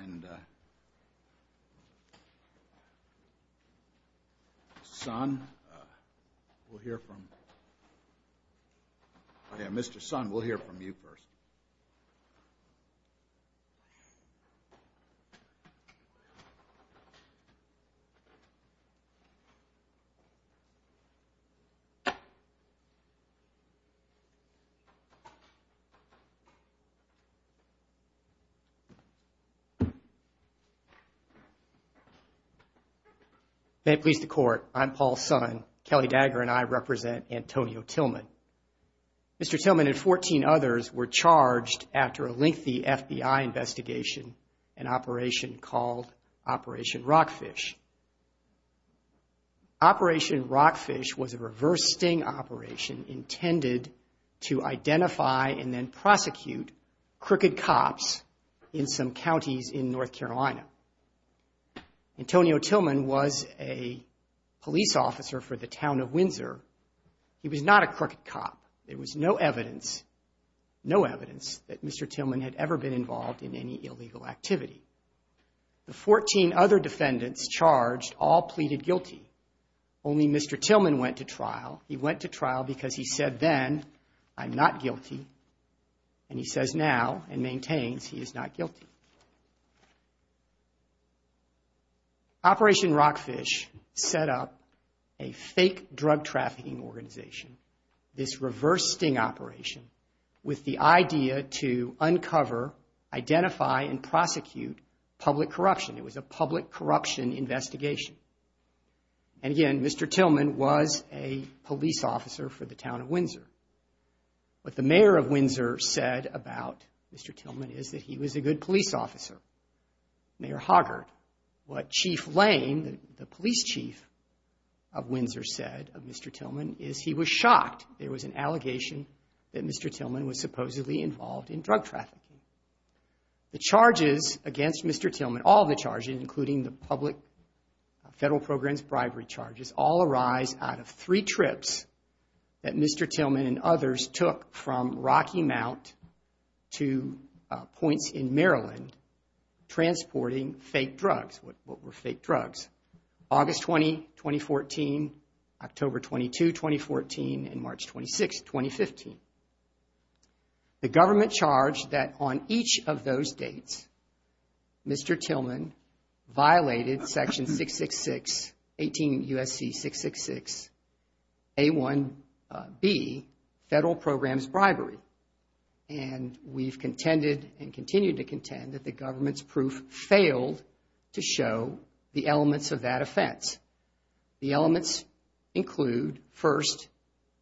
And, uh, Son, uh, we'll hear from... Oh yeah, Mr. Son, we'll hear from you first. May it please the court, I'm Paul Son. Kelly Dagger and I represent Antonio Tillman. Mr. Tillman and 14 others were charged after a lengthy FBI investigation, an operation called Operation Rockfish. Operation Rockfish was a reverse sting operation intended to identify and then prosecute crooked cops in some counties in North Carolina. Antonio Tillman was a police officer for the town of Windsor. He was not a crooked cop. There was no evidence, no evidence, that Mr. Tillman had ever been involved in any illegal activity. The 14 other defendants charged all pleaded guilty. Only Mr. Tillman went to trial. He went to trial because he said then, I'm not guilty, and he says now and maintains he is not guilty. Operation Rockfish set up a fake drug trafficking organization, this reverse sting operation, with the idea to uncover, identify, and prosecute public corruption. It was a public corruption investigation. And again, Mr. Tillman was a police officer for the town of Windsor. What the mayor of Windsor said about Mr. Tillman is that he was a good police officer, Mayor Hoggart. What Chief Lane, the police chief of Windsor, said of Mr. Tillman is he was shocked. There was an allegation that Mr. Tillman was supposedly involved in drug trafficking. The charges against Mr. Tillman, all the charges, including the public federal programs bribery charges, all arise out of three trips that Mr. Tillman and others took from Rocky Mount to points in Maryland transporting fake drugs. What were fake drugs? August 20, 2014, October 22, 2014, and March 26, 2015. The government charged that on each of those dates, Mr. Tillman violated Section 666, 18 U.S.C. 666, A1B, federal programs bribery. And we've contended and continue to contend that the government's proof failed to show the elements of that offense. The elements include, first,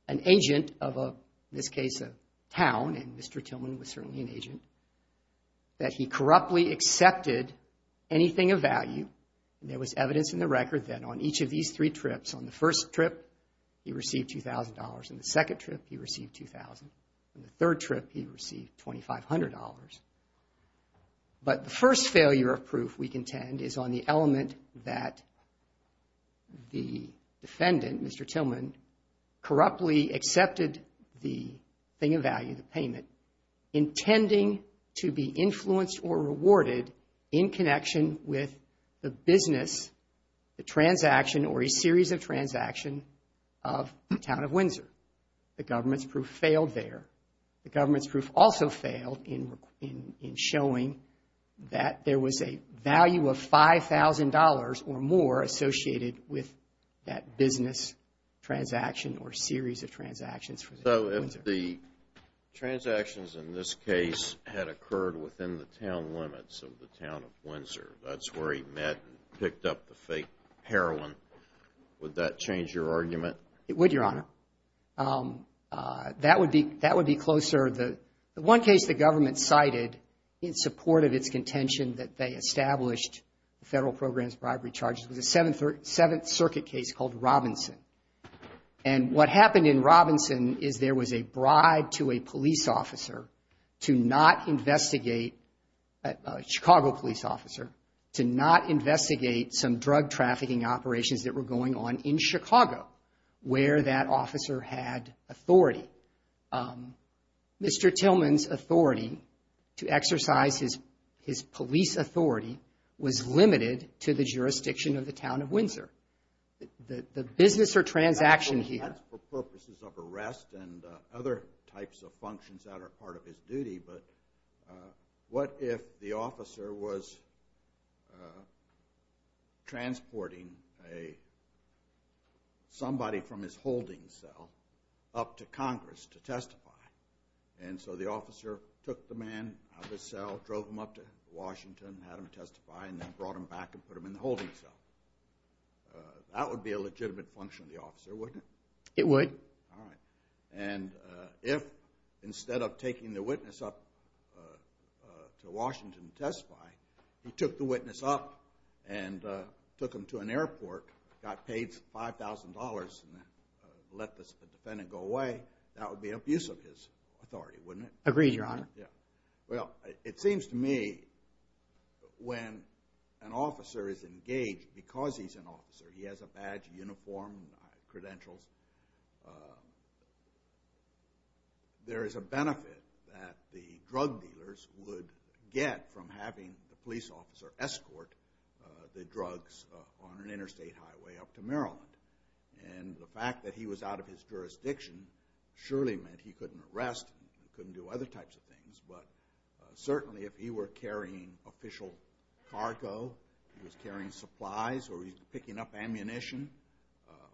an agent of a, in this case, a town, and Mr. Tillman was certainly an agent, that he corruptly accepted anything of value. There was evidence in the record that on each of these three trips, on the first trip, he received $2,000. On the second trip, he received $2,000. On the third trip, he received $2,500. But the first failure of proof we contend is on the element that the defendant, Mr. Tillman, corruptly accepted the thing of value, the payment, intending to be influenced or rewarded in connection with the business, the transaction or a series of transaction of the town of Windsor. The government's proof failed there. The government's proof also failed in showing that there was a value of $5,000 or more associated with that business transaction or series of transactions for the town of Windsor. So if the transactions in this case had occurred within the town limits of the town of Windsor, that's where he met and picked up the fake heroin, would that change your argument? It would, Your Honor. That would be closer. The one case the government cited in support of its contention that they established the federal program's bribery charges was a Seventh Circuit case called Robinson. And what happened in Robinson is there was a bribe to a police officer to not investigate, a Chicago police officer, to not investigate some drug trafficking operations that were going on in Chicago where that officer had authority. Mr. Tillman's authority to exercise his police authority was limited to the jurisdiction of the town of Windsor. The business or transaction he had... but what if the officer was transporting somebody from his holding cell up to Congress to testify? And so the officer took the man out of his cell, drove him up to Washington, had him testify, and then brought him back and put him in the holding cell. That would be a legitimate function of the officer, wouldn't it? It would. All right. And if, instead of taking the witness up to Washington to testify, he took the witness up and took him to an airport, got paid $5,000 and let the defendant go away, that would be abuse of his authority, wouldn't it? Agreed, Your Honor. Well, it seems to me when an officer is engaged, because he's an officer, he has a badge, a uniform, credentials, there is a benefit that the drug dealers would get from having the police officer escort the drugs on an interstate highway up to Maryland. And the fact that he was out of his jurisdiction surely meant he couldn't arrest, he couldn't do other types of things, but certainly if he were carrying official cargo, he was carrying supplies or he was picking up ammunition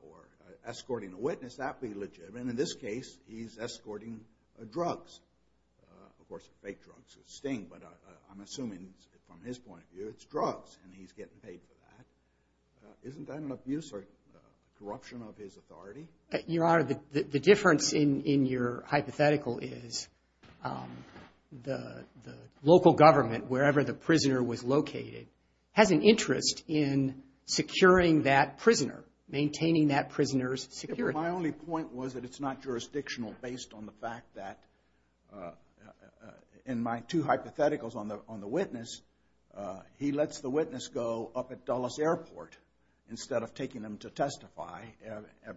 or escorting a witness, that would be legitimate. In this case, he's escorting drugs. Of course, fake drugs would sting, but I'm assuming from his point of view it's drugs and he's getting paid for that. Isn't that an abuse or corruption of his authority? Your Honor, the difference in your hypothetical is the local government, wherever the prisoner was located, has an interest in securing that prisoner, maintaining that prisoner's security. My only point was that it's not jurisdictional based on the fact that in my two hypotheticals on the witness, he lets the witness go up at Dulles Airport instead of taking him to testify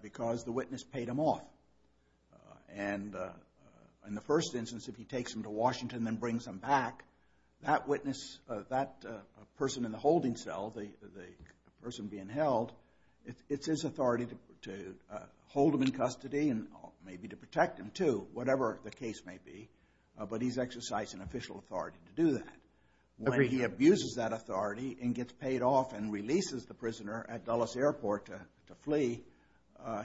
because the witness paid him off. And in the first instance, if he takes him to Washington and brings him back, that witness, that person in the holding cell, the person being held, it's his authority to hold him in custody and maybe to protect him too, whatever the case may be. But he's exercising official authority to do that. When he abuses that authority and gets paid off and releases the prisoner at Dulles Airport to flee,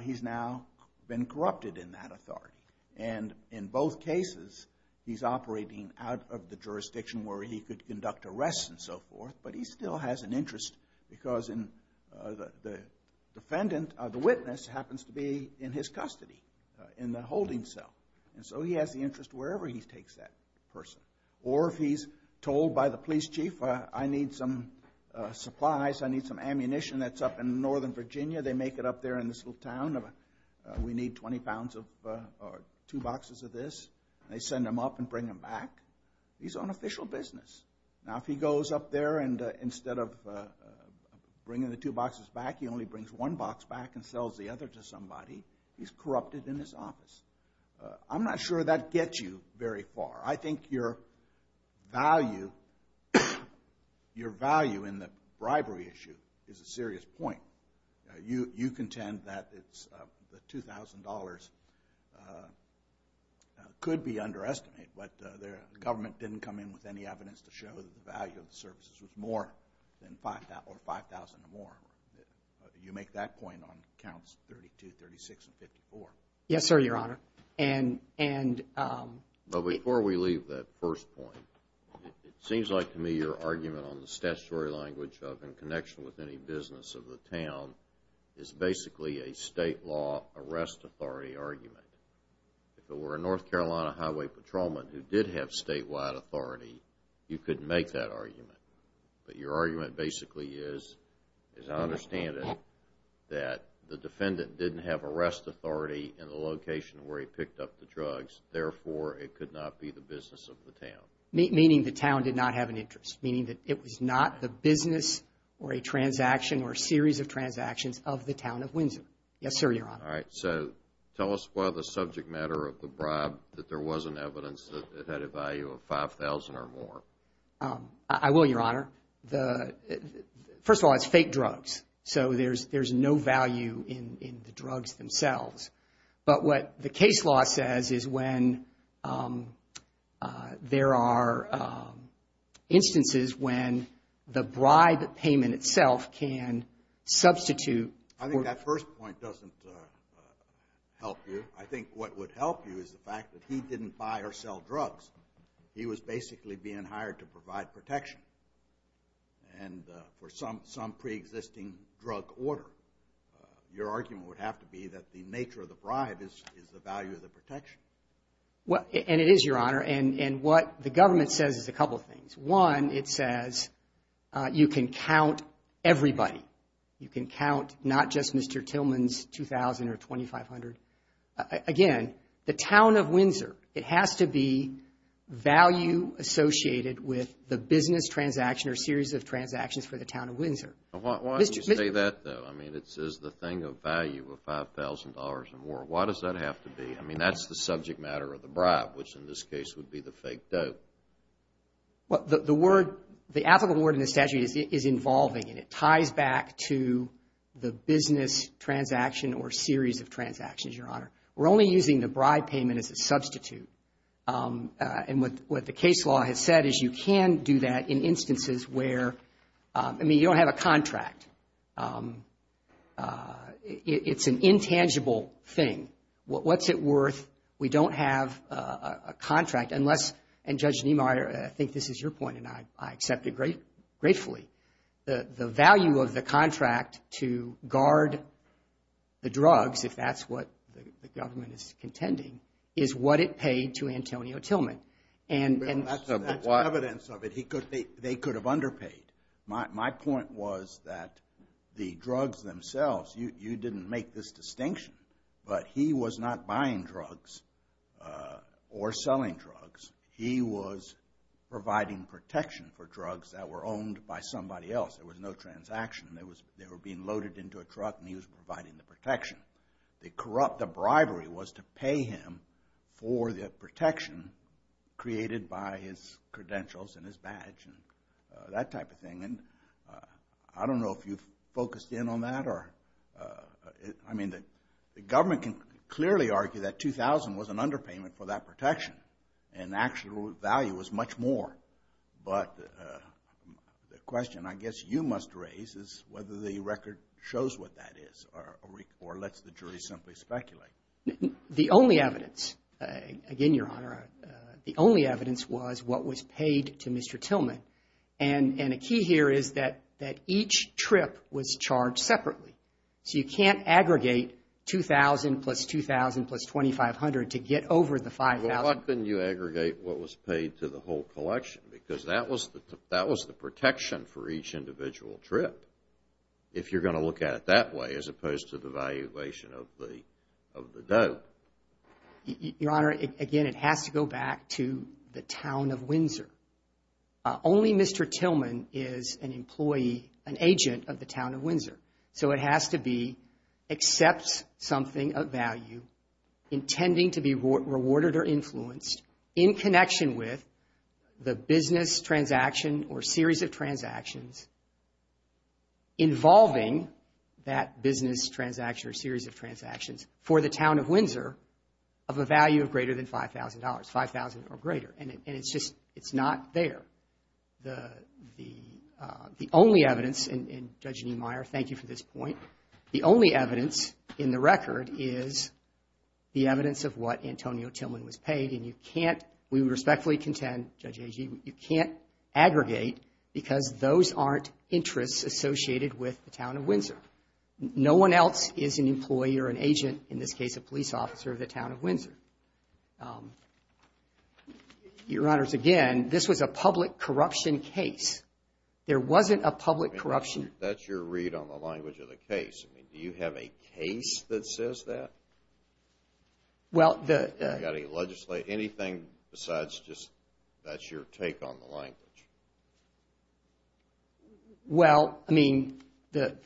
he's now been corrupted in that authority. And in both cases, he's operating out of the jurisdiction where he could conduct arrests and so forth, but he still has an interest because the witness happens to be in his custody in the holding cell. And so he has the interest wherever he takes that person. Or if he's told by the police chief, I need some supplies, I need some ammunition that's up in Northern Virginia, they make it up there in this little town, we need 20 pounds or two boxes of this. They send him up and bring him back. He's on official business. Now if he goes up there and instead of bringing the two boxes back, he only brings one box back and sells the other to somebody, he's corrupted in his office. I'm not sure that gets you very far. I think your value in the bribery issue is a serious point. You contend that the $2,000 could be underestimated, but the government didn't come in with any evidence to show that the value of the services was more than 5,000 or more. You make that point on counts 32, 36, and 54. Yes, sir, Your Honor. But before we leave that first point, it seems like to me your argument on the statutory language of in connection with any business of the town is basically a state law arrest authority argument. If it were a North Carolina highway patrolman who did have statewide authority, you couldn't make that argument. But your argument basically is, as I understand it, that the defendant didn't have arrest authority in the location where he picked up the drugs, therefore it could not be the business of the town. Meaning the town did not have an interest. Meaning that it was not the business or a transaction or a series of transactions of the town of Windsor. Yes, sir, Your Honor. All right, so tell us why the subject matter of the bribe, that there wasn't evidence that it had a value of 5,000 or more. I will, Your Honor. First of all, it's fake drugs. So there's no value in the drugs themselves. But what the case law says is when there are instances when the bribe payment itself can substitute... I think that first point doesn't help you. I think what would help you is the fact that he didn't buy or sell drugs. He was basically being hired to provide protection and for some pre-existing drug order. Your argument would have to be that the nature of the bribe is the value of the protection. And what the government says is a couple of things. It says you can count everybody. You can count not just Mr. Tillman's 2,000 or 2,500. Again, the town of Windsor. It has to be value associated with the business transaction or series of transactions for the town of Windsor. Why do you say that, though? I mean, it says the thing of value of $5,000 or more. Why does that have to be? I mean, that's the subject matter of the bribe, which in this case would be the fake dope. Well, the word, the applicable word in the statute is involving and it ties back to the business transaction or series of transactions, Your Honor. We're only using the bribe payment as a substitute. And what the case law has said is you can do that in instances where, I mean, you don't have a contract. It's an intangible thing. What's it worth? We don't have a contract unless, and Judge Niemeyer, I think this is your point and I accept it gratefully. The value of the contract to guard the drugs, if that's what the government is contending, is what it paid to Antonio Tillman. Well, that's evidence of it. They could have underpaid. My point was that the drugs themselves, you didn't make this distinction, but he was not buying drugs or selling drugs. He was providing protection for drugs that were owned by somebody else. There was no transaction. They were being loaded into a truck and he was providing the protection. The bribery was to pay him for the protection created by his credentials and his badge and that type of thing. And I don't know if you've focused in on that or, I mean, the government can clearly argue that $2,000 was an underpayment for that protection and actual value was much more. But the question I guess you must raise is whether the record shows what that is or lets the jury simply speculate. The only evidence, again, Your Honor, the only evidence was what was paid to Mr. Tillman. And a key here is that each trip was charged separately. So you can't aggregate $2,000 plus $2,000 plus $2,500 to get over the $5,000. Well, why couldn't you aggregate what was paid to the whole collection? Because that was the protection for each individual trip if you're going to look at it that way as opposed to the valuation of the dope. Your Honor, again, it has to go back to the town of Windsor. Only Mr. Tillman is an employee, an agent of the town of Windsor. It has to be except something of value intending to be rewarded or influenced in connection with the business transaction or series of transactions involving that business transaction or series of transactions for the town of Windsor of a value of greater than $5,000, $5,000 or greater. And it's just, it's not there. The only evidence, and Judge Niemeyer, thank you for this point. The only evidence in the record is the evidence of what Antonio Tillman was paid. And you can't, we respectfully contend, Judge Agee, you can't aggregate because those aren't interests associated with the town of Windsor. No one else is an employee or an agent, in this case, a police officer of the town of Windsor. Your Honor, again, this was a public corruption case. There wasn't a public corruption. That's your read on the language of the case. I mean, do you have a case that says that? Well, the... Anything besides just that's your take on the language? Well, I mean, the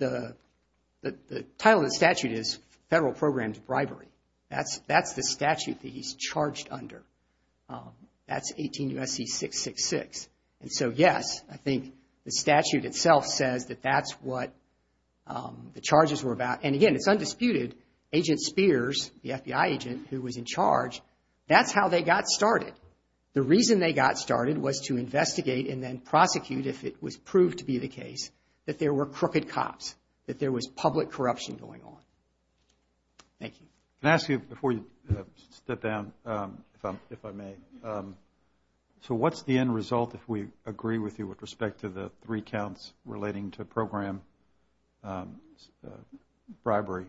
title of the statute is Federal Programmed Bribery. That's the statute that he's charged under. That's 18 U.S.C. 666. And so, yes, I think the statute itself says that's what the charges were about. And again, it's undisputed. Agent Spears, the FBI agent who was in charge, that's how they got started. The reason they got started was to investigate and then prosecute if it was proved to be the case that there were crooked cops, that there was public corruption going on. Thank you. Can I ask you, before you step down, if I may, so what's the end result if we agree with you with respect to the three counts relating to programmed bribery?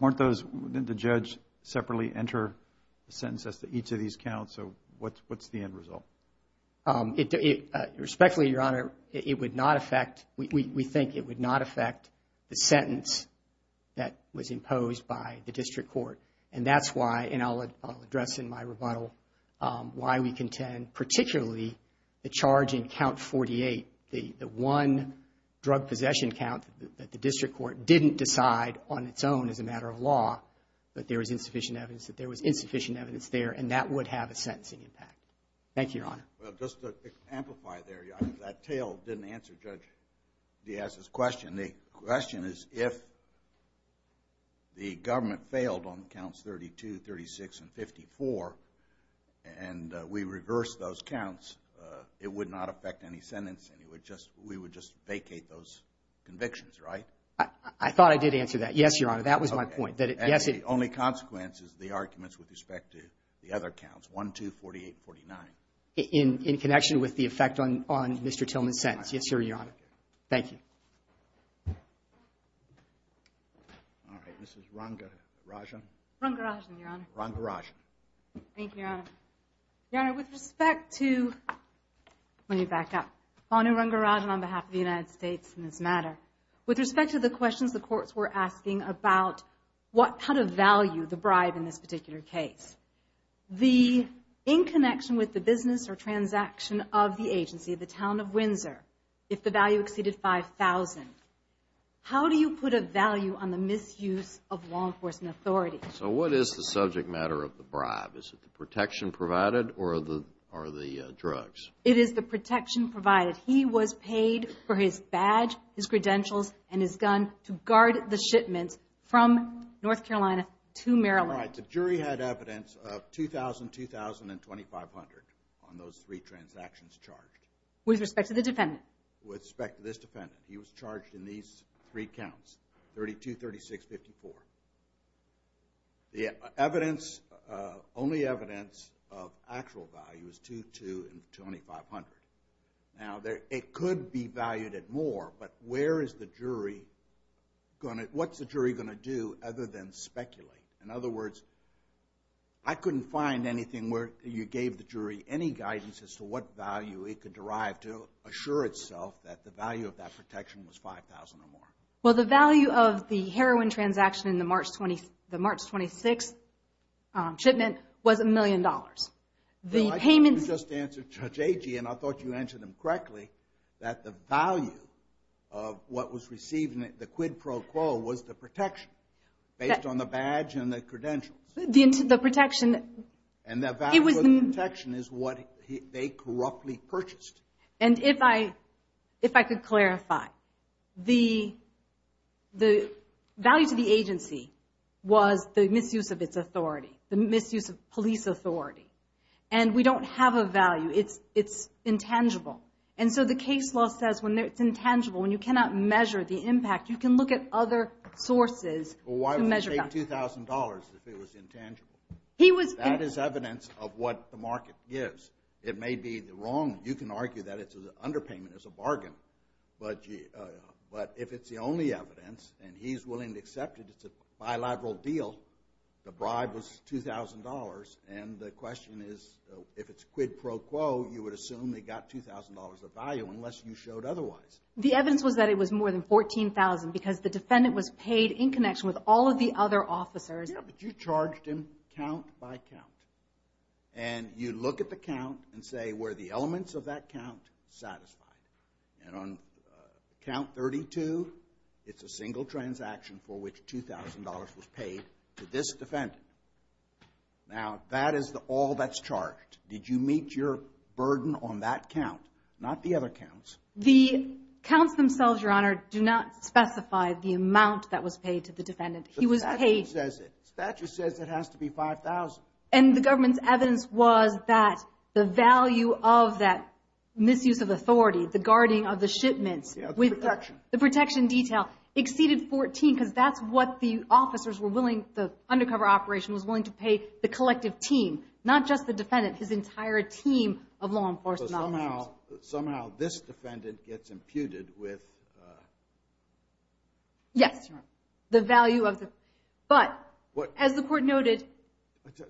Weren't those... Didn't the judge separately enter sentences to each of these counts? So what's the end result? Respectfully, Your Honor, it would not affect... We think it would not affect the sentence that was imposed by the district court. And that's why, and I'll address in my rebuttal, why we contend, particularly the charge in count 48, the one drug possession count that the district court didn't decide on its own as a matter of law, that there was insufficient evidence, that there was insufficient evidence there, and that would have a sentencing impact. Thank you, Your Honor. Well, just to amplify there, that tale didn't answer Judge Diaz's question. The question is, if the government failed on counts 32, 36, and 54, and we reversed those counts, it would not affect any sentence, and we would just vacate those convictions, right? I thought I did answer that. Yes, Your Honor, that was my point. And the only consequence is the arguments with respect to the other counts, 1, 2, 48, 49. In connection with the effect on Mr. Tillman's sentence. Yes, Your Honor. Thank you. All right, Mrs. Ranga Rajan. Ranga Rajan, Your Honor. Ranga Rajan. Thank you, Your Honor. Your Honor, with respect to... Let me back up. Pauline Ranga Rajan on behalf of the United States in this matter. With respect to the questions the courts were asking about what kind of value, the bribe in this particular case, the in connection with the business or transaction of the agency, the town of Windsor, if the value exceeded 5,000, how do you put a value on the misuse of law enforcement authority? This is a specific matter of the bribe. Is it the protection provided or the drugs? It is the protection provided. He was paid for his badge, his credentials, and his gun to guard the shipments from North Carolina to Maryland. All right, the jury had evidence of 2,000, 2,000, and 2,500 on those three transactions charged. With respect to the defendant? With respect to this defendant. He was charged in these three counts, 32, 36, 54. And his only evidence of actual value is 2,200 and 2,500. Now, it could be valued at more, but where is the jury going to, what's the jury going to do other than speculate? In other words, I couldn't find anything where you gave the jury any guidance as to what value it could derive to assure itself that the value of that protection was 5,000 or more. Well, the value of the heroin transaction in the March 26 shipment was a million dollars. The payments... No, I think you just answered Judge Agee, and I thought you answered him correctly, that the value of what was received in the quid pro quo was the protection, based on the badge and the credentials. The protection... And the value of the protection is what they corruptly purchased. And if I could clarify, the value to the agency was the misuse of its authority, the misuse of police authority. And we don't have a value. It's intangible. And so the case law says when it's intangible, when you cannot measure the impact, you can look at other sources to measure value. Well, why would they take $2,000 if it was intangible? That is evidence of what the market gives. It may be the wrong, you can argue that it's an underpayment, it's a bargain, but if it's the only evidence, and he's willing to accept it, it's a bilateral deal, the bribe was $2,000, and the question is, if it's quid pro quo, you would assume they got $2,000 of value unless you showed otherwise. The evidence was that it was more than $14,000 because the defendant was paid in connection with all of the other officers. Yeah, but you charged him count by count. And you look at the count and say were the elements of that count satisfied? And on count 32, it's a single transaction for which $2,000 was paid to this defendant. Now, that is all that's charged. Did you meet your burden on that count, not the other counts? The counts themselves, Your Honor, do not specify the amount that was paid to the defendant. The statute says it. The statute says it has to be $5,000. And the government's evidence was that the value of that misuse of authority, the guarding of the shipments, the protection detail, exceeded $14,000 because that's what the officers were willing, the undercover operation was willing to pay the collective team, not just the defendant, his entire team of law enforcement officers. So somehow this defendant gets imputed with... Yes, Your Honor. The value of the... But as the court noted...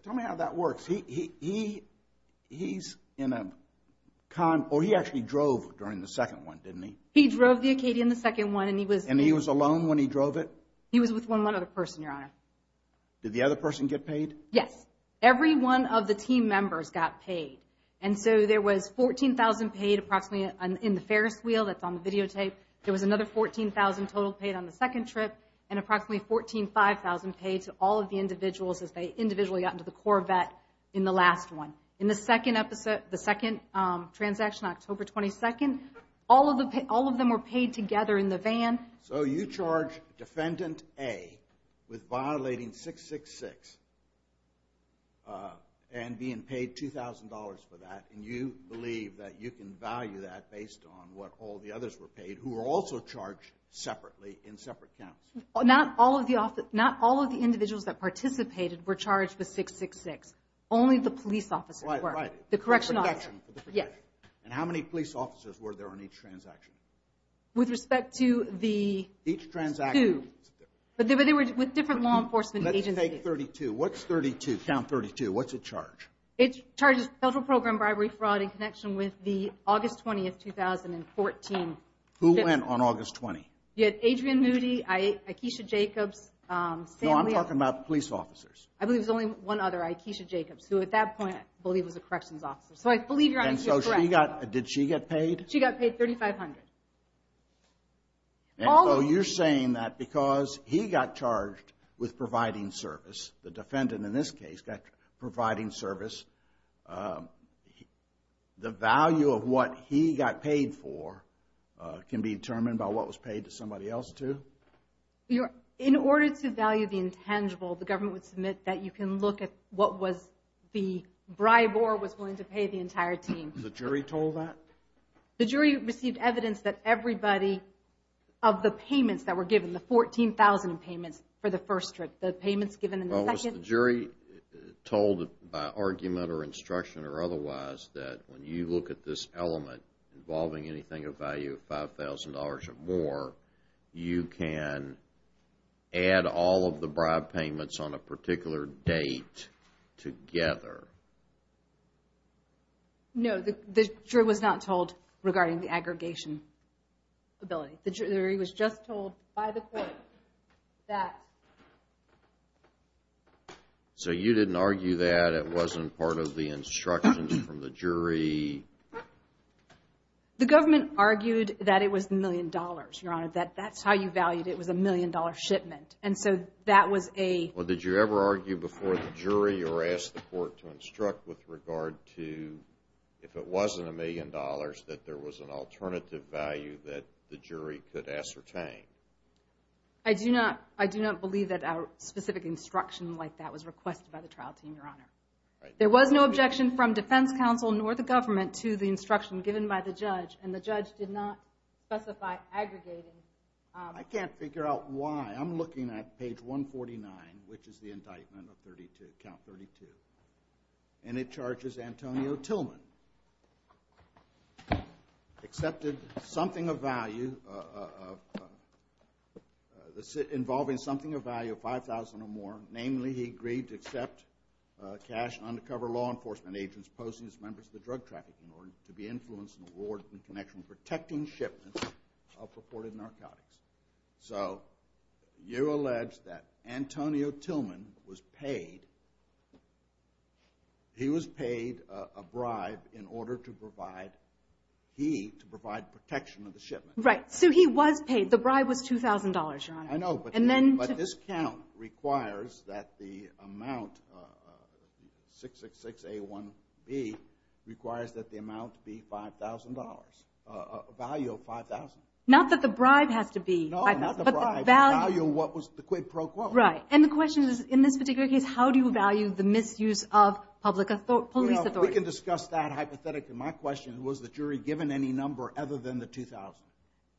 Tell me how that works. He's in a con... Or he actually drove during the second one, didn't he? He drove the Acadia in the second one and he was... And he was alone when he drove it? He was with one other person, Your Honor. Did the other person get paid? Yes. Every one of the team members got paid. And so there was $14,000 paid approximately in the Ferris wheel that's on the videotape. There was another $14,000 total paid on the second trip and approximately $14,000-$15,000 paid to all of the individuals as they individually got into the Corvette in the last one. In the second transaction, October 22nd, all of them were paid together in the van. So you charge Defendant A with violating 666 and being paid $2,000 for that and you believe that you can value that based on what all the others were paid who were also charged separately in separate counts. Only the police officers were charged with 666. So you charge Defendant A with violating 666. Yes. And how many police officers were there on each transaction? With respect to the two. Each transaction was different. But they were with different law enforcement agencies. Let's take 32. What's 32? Count 32. What's it charge? It charges federal program bribery, fraud in connection with the August 20th, 2014. I believe it was a corrections officer. So I believe you're correct. Did she get paid? She got paid $3,500. So you're saying that because he got charged with providing service, the defendant in this case got providing service, the value of what he got paid for can be determined by what was paid to somebody else too? In order to value the intangible, the government would submit that you can look at the amount of bribe or was willing to pay the entire team. The jury told that? The jury received evidence that everybody of the payments that were given, the 14,000 payments for the first trip, the payments given in the second. Was the jury told by argument or instruction or otherwise that when you look at this element involving anything of value of $5,000 or more, you can add all of the bribe payments on a particular date No, the jury was not told regarding the aggregation ability. The jury was just told by the court that... So you didn't argue that it wasn't part of the instructions from the jury? The government argued that it was $1,000,000, Your Honor. That's how you valued it. It was a $1,000,000 shipment. Well, did you ever argue before the jury in regard to if it wasn't $1,000,000 that there was an alternative value that the jury could ascertain? I do not believe that our specific instruction like that was requested by the trial team, Your Honor. There was no objection from defense counsel nor the government to the instruction given by the judge and the judge did not specify aggregating. I can't figure out why. Your Honor, Judge Antonio Tillman accepted something of value of... involving something of value of $5,000 or more. Namely, he agreed to accept cash from undercover law enforcement agents posing as members of the drug traffic in order to be influenced and awarded in connection with protecting shipments of purported narcotics. So you allege that Antonio Tillman was paid a bribe in order to provide he, to provide protection of the shipment. Right, so he was paid. The bribe was $2,000, Your Honor. I know, but this count requires that the amount 666A1B requires that the amount be $5,000, a value of $5,000. Not that the bribe has to be $5,000. No, not the bribe, the value of what was the quid pro quo. Right, and the question is in this particular case how do you value the misuse of public police authority? We can discuss that hypothetically. My question was, was the jury given any number other than the $2,000?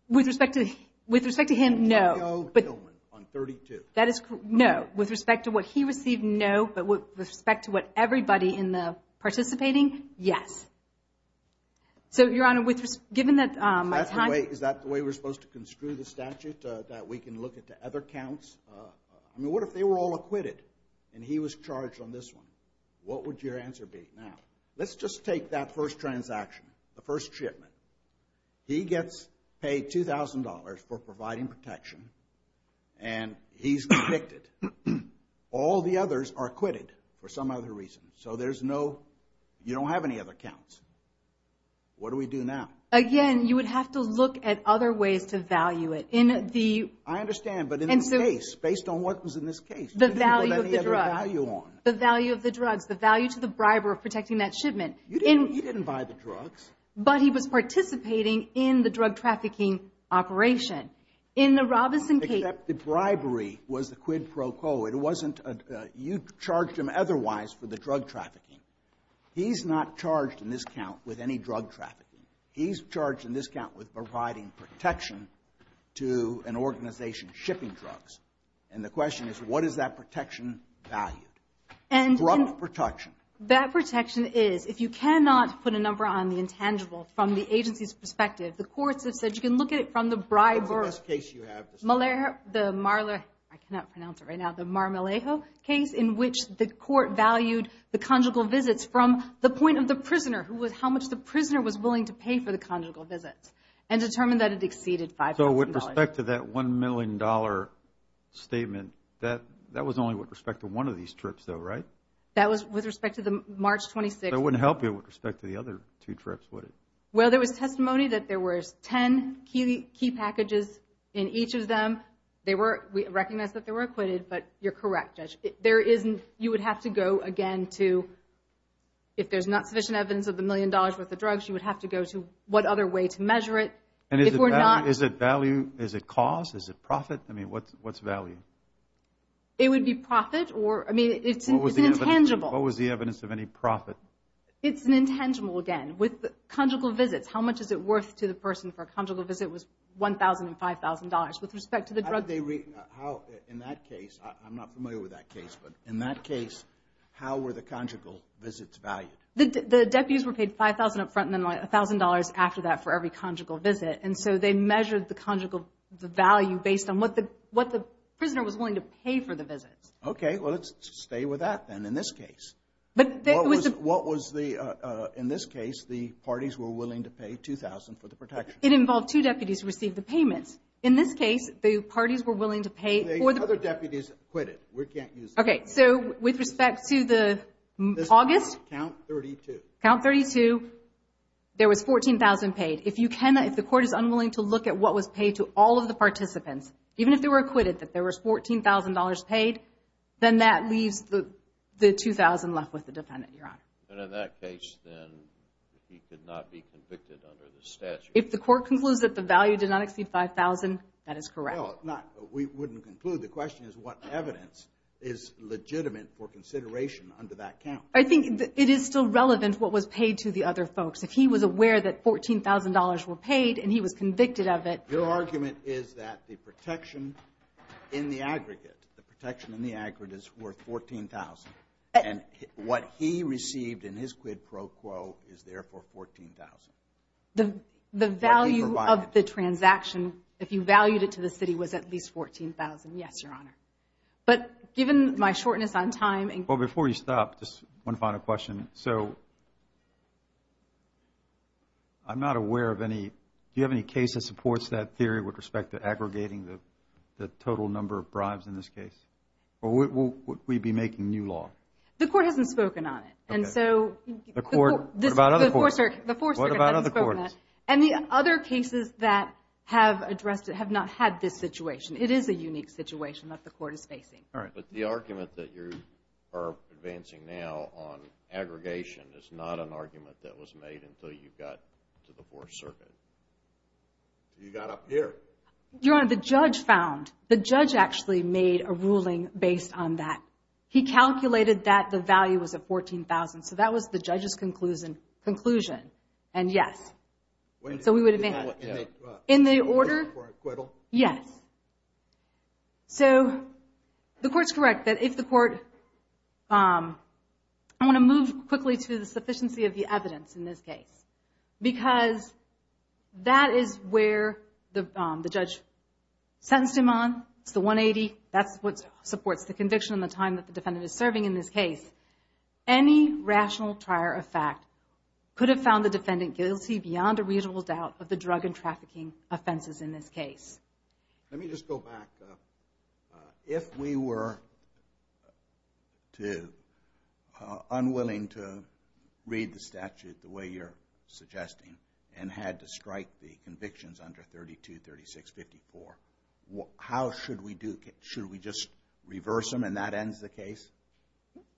With respect to, with respect to him, no. Antonio Tillman on $32,000. That is, no. With respect to what he received, no. But with respect to what everybody in the participating, yes. So, Your Honor, given that my time... Is that the way, is that the way we're supposed to construe the statute that we can look at the other counts? I mean, what if they were all acquitted and he was charged on this one? What would your answer be? Now, let's just take that first transaction, the first shipment. He gets paid $2,000 for providing protection and he's convicted. All the others are acquitted for some other reason. So there's no, you don't have any other counts. What do we do now? Again, you would have to look at other ways to value it. In the... I understand, but in this case, based on what was in this case, the value of the drug. You didn't put any other value on. The value of the drugs, the value to the briber of protecting that shipment. You didn't buy the drugs. But he was participating in the drug trafficking operation. In the Robeson case... Except the bribery was the quid pro quo. It wasn't, you charged him otherwise for the drug trafficking. He's not charged in this count with any drug trafficking. He's charged in this count with providing protection to an organization shipping drugs. And the question is, what is that protection value? Drug protection. That protection is, if you cannot put a number on the intangible from the agency's perspective, the courts have said you can look at it from the briber... What's the best case you have? The Marler... I cannot pronounce it right now. The Marmelejo case in which the court valued the conjugal visits from the point of the prisoner who was how much the prisoner was willing to pay for the conjugal visits and determined that it exceeded $5,000. So with respect to that $1 million statement, that was only with respect to one of these trips though, right? That was with respect to the March 26th. So it wouldn't help you with respect to the other two trips, would it? Well, there was testimony that there was 10 key packages in each of them. They were... We recognize that they were acquitted, but you're correct, Judge. There isn't... You would have to go again to... If there's not sufficient evidence of the million dollars worth of drugs, you would have to go to what other way to measure it. And if we're not... Is it value? Is it cost? Is it profit? I mean, what's value? It would be profit or... I mean, it's an intangible... What was the evidence of any profit? It's an intangible again. With conjugal visits, how much is it worth to the person for a conjugal visit was $1,000 and $5,000. With respect to the drug... How did they... In that case, I'm not familiar with that case, but in that case, how were the conjugal visits valued? The deputies were paid $5,000 up front and then $1,000 after that for every conjugal visit. And so they measured the conjugal value based on what they had and what the prisoner was willing to pay for the visits. Okay. Well, let's stay with that then in this case. But there was... What was the... In this case, the parties were willing to pay $2,000 for the protection. It involved two deputies who received the payments. In this case, the parties were willing to pay for the... The other deputies quit it. We can't use that. Okay. So with respect to the August... Count 32. Count 32, there was $14,000 paid. If you cannot... If the court is unwilling to look at what was paid to all of the participants, even if they were acquitted that there was $14,000 paid, then that leaves the $2,000 left with the defendant, Your Honor. And in that case, then, he could not be convicted under the statute. If the court concludes that the value did not exceed $5,000, that is correct. Well, not... We wouldn't conclude. The question is what evidence is legitimate for consideration under that count. I think it is still relevant what was paid to the other folks. If he was aware that $14,000 were paid and he was convicted of it... Your argument is that the protection in the aggregate, the protection in the aggregate is worth $14,000. And what he received in his quid pro quo is therefore $14,000. The value of the transaction, if you valued it to the city, was at least $14,000. Yes, Your Honor. But given my shortness on time... So, I'm not aware of any... Do you have any case that supports that that the defendant was convicted under the statute of $14,000? No. No. No. So, is that theory with respect to aggregating the total number of bribes in this case? Or would we be making new law? The Court hasn't spoken on it. Okay. And so... The Court... What about other courts? The Fourth Circuit hasn't spoken on it. What about other courts? And the other cases that have addressed it have not had this situation. It is a unique situation that the Court is facing. All right. But the argument that you are advancing now on aggregation is not an argument that was made until you got to the Fourth Circuit. You got up here. Your Honor, the judge found... The judge actually made a ruling based on that. He calculated that the value was at $14,000. So, that was the judge's conclusion. And, yes. So, we would advance. In the order... For acquittal? Yes. the Court's correct that if the Court... I want to move quickly to the sufficiency of the evidence in this case. Because that is where the real evidence is. The evidence that the judge sentenced him on is the $180,000. That is what supports the conviction and the time that the defendant is serving in this case. Any rational trier of fact could have found the defendant guilty beyond a reasonable doubt of the drug and trafficking offenses in this case. If we were unwilling to read the statute the way you are suggesting and had to strike the convictions under $32,000 and had to strike the convictions under $32,000 and had to strike the convictions under $32,000 to lead to $36,000 or $54,000 how should we do... Should we just reverse them and that ends the case?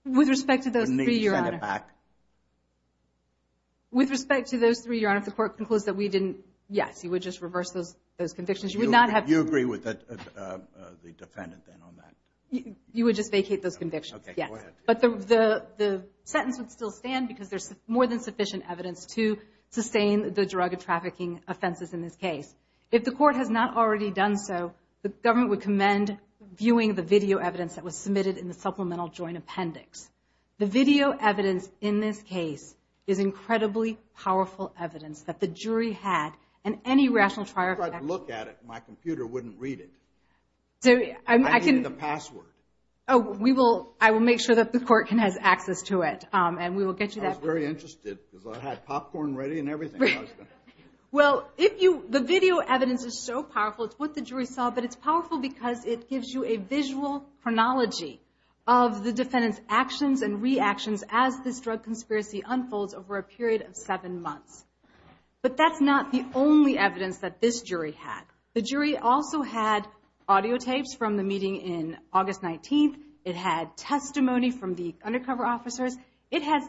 With respect to those three Your Honor... And make them send it back? With respect to those three Your Honor if the Court concludes that we didn't yes you would just reverse those convictions and you would not have to... You agree with the defendant then on that? You would just vacate those convictions, yes. You would just vacate them. If the Court has not already done so the Government would commend viewing the video evidence that was submitted in the supplemental joint appendix. The video evidence in this case is incredibly powerful evidence that the jury had and any rational trial... If I look at it my computer wouldn't read it. I need the password. Oh we will... I will make sure that the Court can has access to it and we will get you that. I was very interested because I had popcorn ready and everything. Well the video evidence is so powerful. It's what the jury saw but it's powerful because it gives you a visual chronology of the defendant's actions and reactions as this drug conspiracy unfolds over a period of seven months. But that's not the only evidence that this jury had. The jury also had audio tapes from the meeting in August 19th. It had testimony from the undercover officers. It had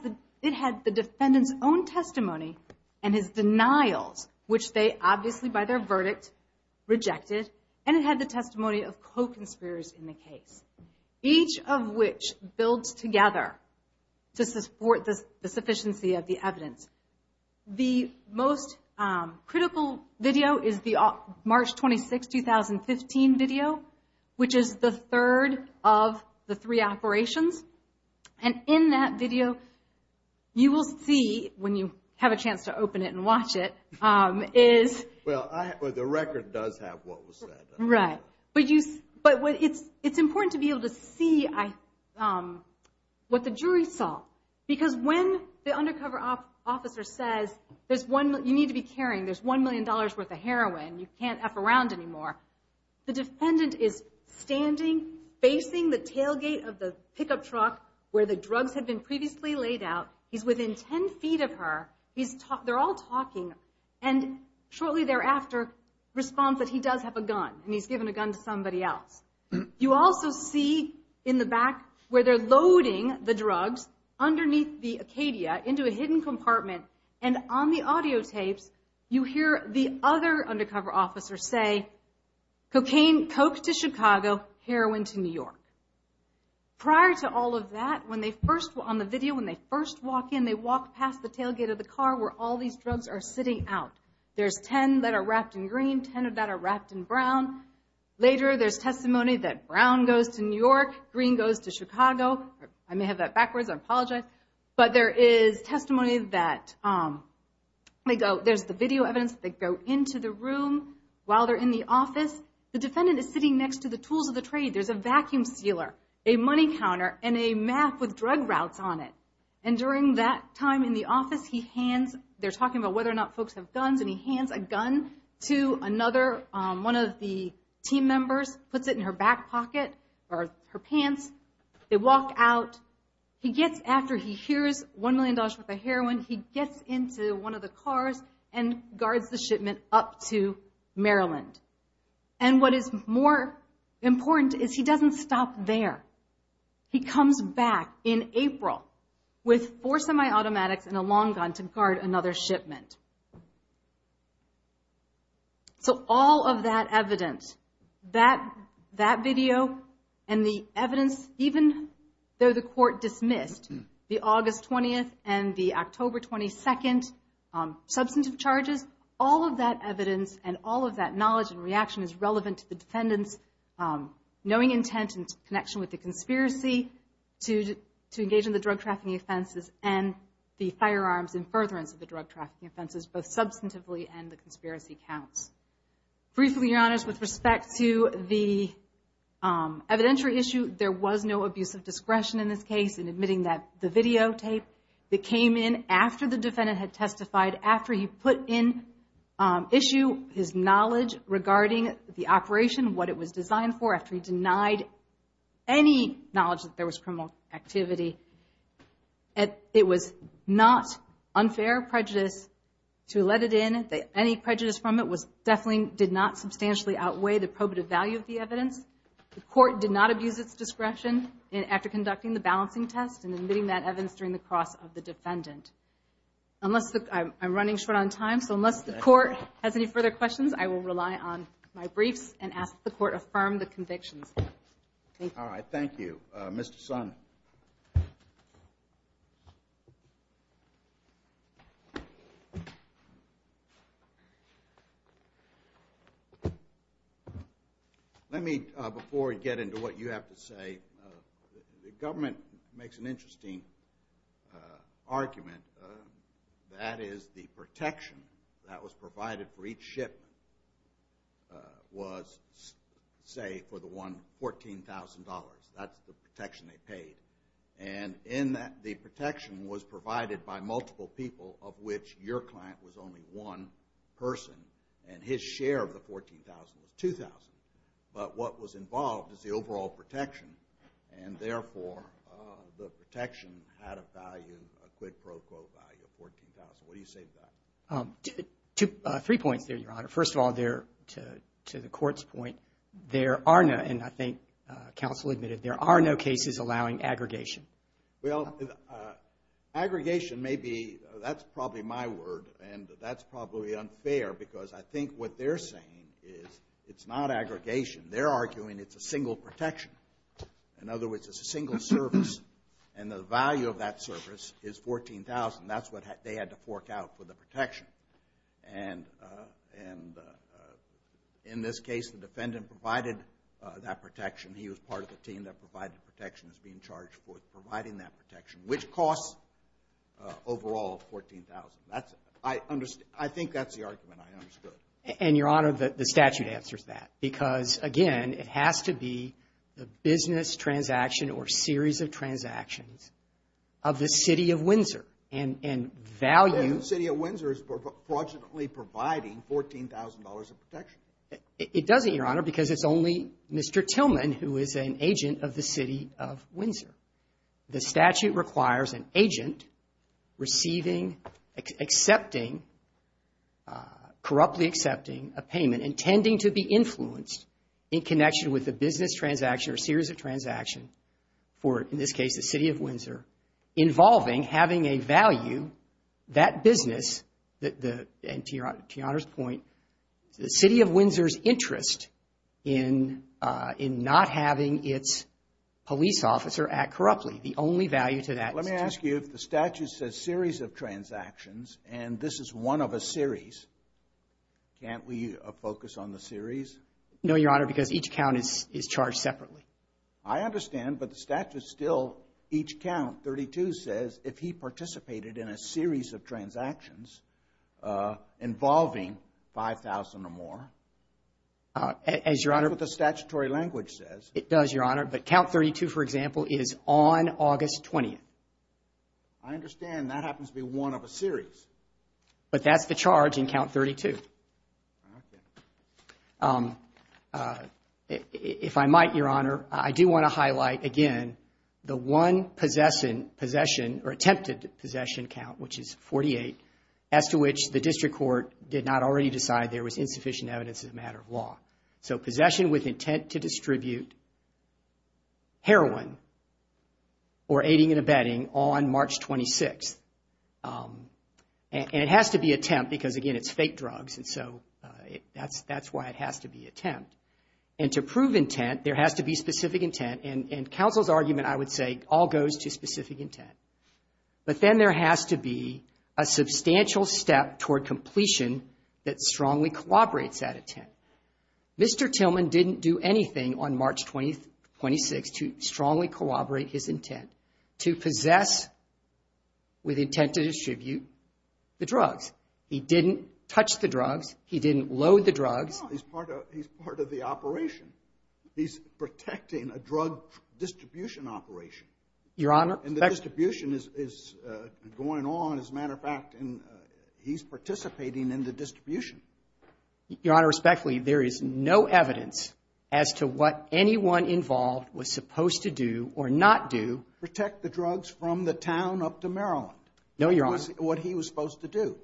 the defendant's own testimony and his denials which they obviously by their verdict rejected. And it had the testimony of co-conspirators in the case. Each of which builds together to support the the evidence. The most critical video is the March 26, 2015 video which is the third of the three operations. And in that video there is the defendant standing facing the tailgate And the defendant is standing facing the tailgate of the pickup truck where the drugs had been previously sold. And defendant facing the pickup truck where the drugs had been previously laid out. He's within 10 feet of her. They're all talking and shortly thereafter responds that he does have a video of the pickup truck where the drugs are sitting out. There's 10 that are wrapped in green and 10 that are wrapped in brown. Later there's testimony that brown goes to New York and during that time in the office they're talking about whether or not folks have guns and he hands a gun to another one of the team members, puts it in her back pocket or her pants. They walk out. He gets into one of the trucks with four semi-automatics and a long gun to guard another shipment. So all of that evidence, that video and the evidence, even though the court dismissed the August 20th and the October 22nd substantive charges, all of that evidence and all of that knowledge and reaction is relevant to the drug trafficking offenses and the firearms and furtherance of the drug offenses, both substantively and the conspiracy counts. Briefly, Your Honors, with respect to the evidentiary issue, there was no abuse of discretion in this case in admitting that the videotape that came in after the defendant had testified, after he put in issue, his knowledge regarding the operation, what it was designed for, after he denied any knowledge that there was criminal activity. It was not unfair prejudice to let it in. Any prejudice from it definitely did not substantially outweigh the probative value of the evidence. The court did not abuse its discretion after conducting the balancing test and admitting that evidence during the cross of the defendant. I'm running short on time, so unless the court has any further questions, I will rely on my briefs and ask the court to affirm the convictions. Thank you. Thank you. Mr. Son. Let me before we get into what you have to say, the government makes an interesting argument. That is the protection that was provided for each shipment was say for the one $14,000. That's the protection they paid. And in that the protection was provided by multiple people of which your client was only one person and his share of the $14,000 was $2,000. But what was involved is the overall protection and therefore the protection had a value, a quid pro quo value of $14,000. What do you say to that? Three points there, Your Honor. First of all, to the court's point, there are no and I think counsel admitted there are no cases allowing aggregation. Aggregation may be, that's probably my fair because I think what they're saying is it's not aggregation. They're arguing it's a single protection. In other words, it's a single service and the value of that service is $14,000. That's what they had to fork out for the protection. And in this case, the defendant provided that protection. He was part of the team that provided protection, was being charged for providing that $14,000. I mean, I understood. And, Your Honor, the statute answers that because, again, it has to be the business transaction or series of transactions of the City of Windsor and value The City of Windsor is fraudulently providing $14,000 of protection. It doesn't, Your Honor, because it's only Mr. Tillman who is an agent of the City of Windsor. The statute requires an agent receiving, accepting, corruptly accepting a payment, intending to be influenced in connection with the business transaction or series of transaction for, in this case, the City of Windsor, involving having a value, that business, and, Your Honor's point, the City of Windsor's interest in not having its police officer act corruptly. The only value to that is Let me ask you if the statute says series of transactions, and this is one of a series, can't we focus on the series? No, Your Honor, because each count is charged separately. I understand, but the statute still, each count, 32 says, if he participated in a series of transactions involving 5,000 or more. As, Your Honor, That's what the statutory language says. It does, Your Honor, but count 32, for example, is on August 20th. I understand that happens to be one of a series. But that's the charge in count 32. Okay. If I might, Your Honor, I do want to highlight again the one possession, or attempted possession count, which is 48, as to which the district court did not already decide there was insufficient evidence as a matter of law. So possession with intent to distribute heroin or aiding and abetting on March 26th. And it has to be attempt because, again, it's fake drugs, and so that's why it has to be attempt. And to prove intent, there has to be specific intent, and counsel's argument, I would say, all goes to specific intent. But then there has to be a substantial step toward completion that strongly collaborates at intent. Mr. Tillman didn't do anything on March 26th to strongly collaborate his intent to possess with intent to distribute the drugs. He didn't touch the drugs. He didn't load the drugs. He's part of the operation. He's protecting a drug distribution operation. Your Honor. And the distribution is going on, as a matter of fact, and he's participating in the distribution. Your Honor, respectfully, evidence as to what anyone involved was supposed to do or not do. Protect the drugs from the town up to Maryland. No, Your Honor. What he was supposed to do.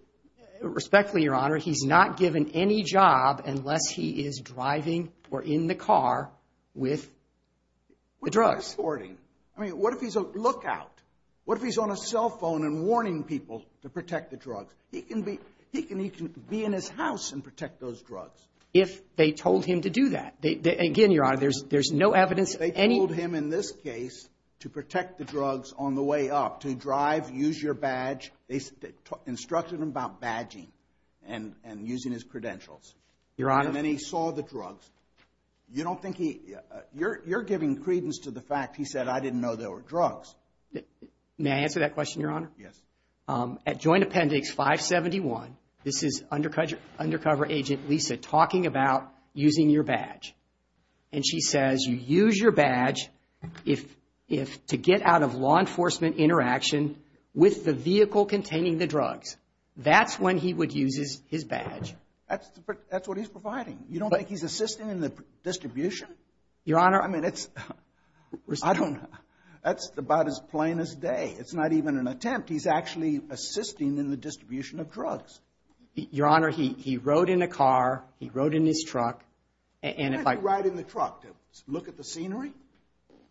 Respectfully, Your Honor, he's not given any job unless he is driving or in the car with the drugs. I mean, what if he's a lookout? What if he's on a cell phone and warning people to protect the drugs? He can be in his house and protect those drugs. If they told him to do that, they instructed him about badging and using his credentials. Your Honor. And then he saw the drugs. You don't think he, you're giving credence to the fact he said I didn't know there were drugs. May I answer that question, Your Honor? Yes. At Joint Appendix 571, this is Undercover Agent Lisa talking about using your badge. And she says, you use your badge to get out of law enforcement interaction with the vehicle containing the drugs. That's when he would use his badge. That's what he's providing. You don't think he's assisting in the distribution? Your Honor. I mean, that's about his plainest day. It's not even an attempt. He's actually assisting in the distribution of drugs. Your Honor, he rode in a car, he rode in his truck. Why did he ride in the truck? To look at the scenery?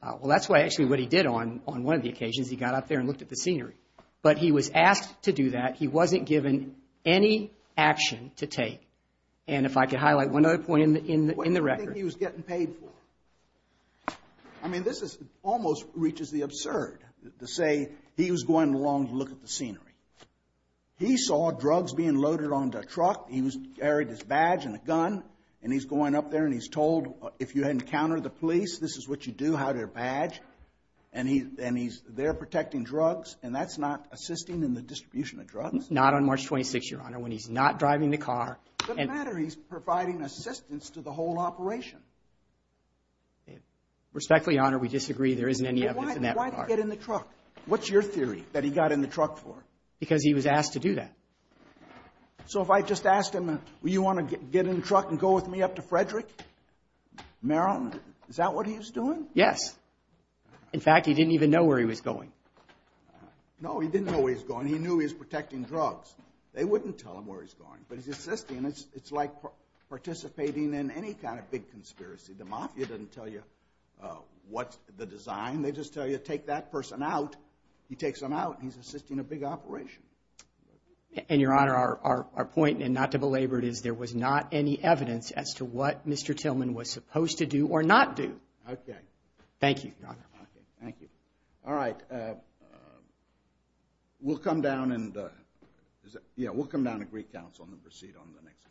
Well, that's actually what he did on one of the occasions. He got up there and looked at the scenery. But he was asked to do that. He wasn't given any action to take. And if I could highlight one other point in the record. What did he think he was getting paid for? I mean, this almost reaches the absurd to say he was going along to look at the scenery. He saw drugs being loaded onto a truck. He was carrying his badge and a gun. And he's going up there and he's told, if you encounter the police, this is what you do, badge. And he's there protecting drugs. And that's not assisting in the distribution of drugs? Not on March 26th, Your Honor, when he's not driving the car. It doesn't matter. He's providing assistance to the whole operation. Respectfully, Your Honor, we disagree. There isn't any evidence in that regard. Why did he get in the truck? What's your theory that he got in the truck for? Because he was asked to do that. So if I just asked him, do you want to get in the truck and go with me up to Frederick, Maryland, is that what he was doing? Yes. In fact, he didn't even know where he was going. No, he didn't know where he was going. He knew he was protecting drugs. They wouldn't tell him where he was we don't have any evidence as to what Mr. Tillman was supposed to do or not do. Thank you. We'll come down to Greek Council and proceed on the next case. We'll take a short break.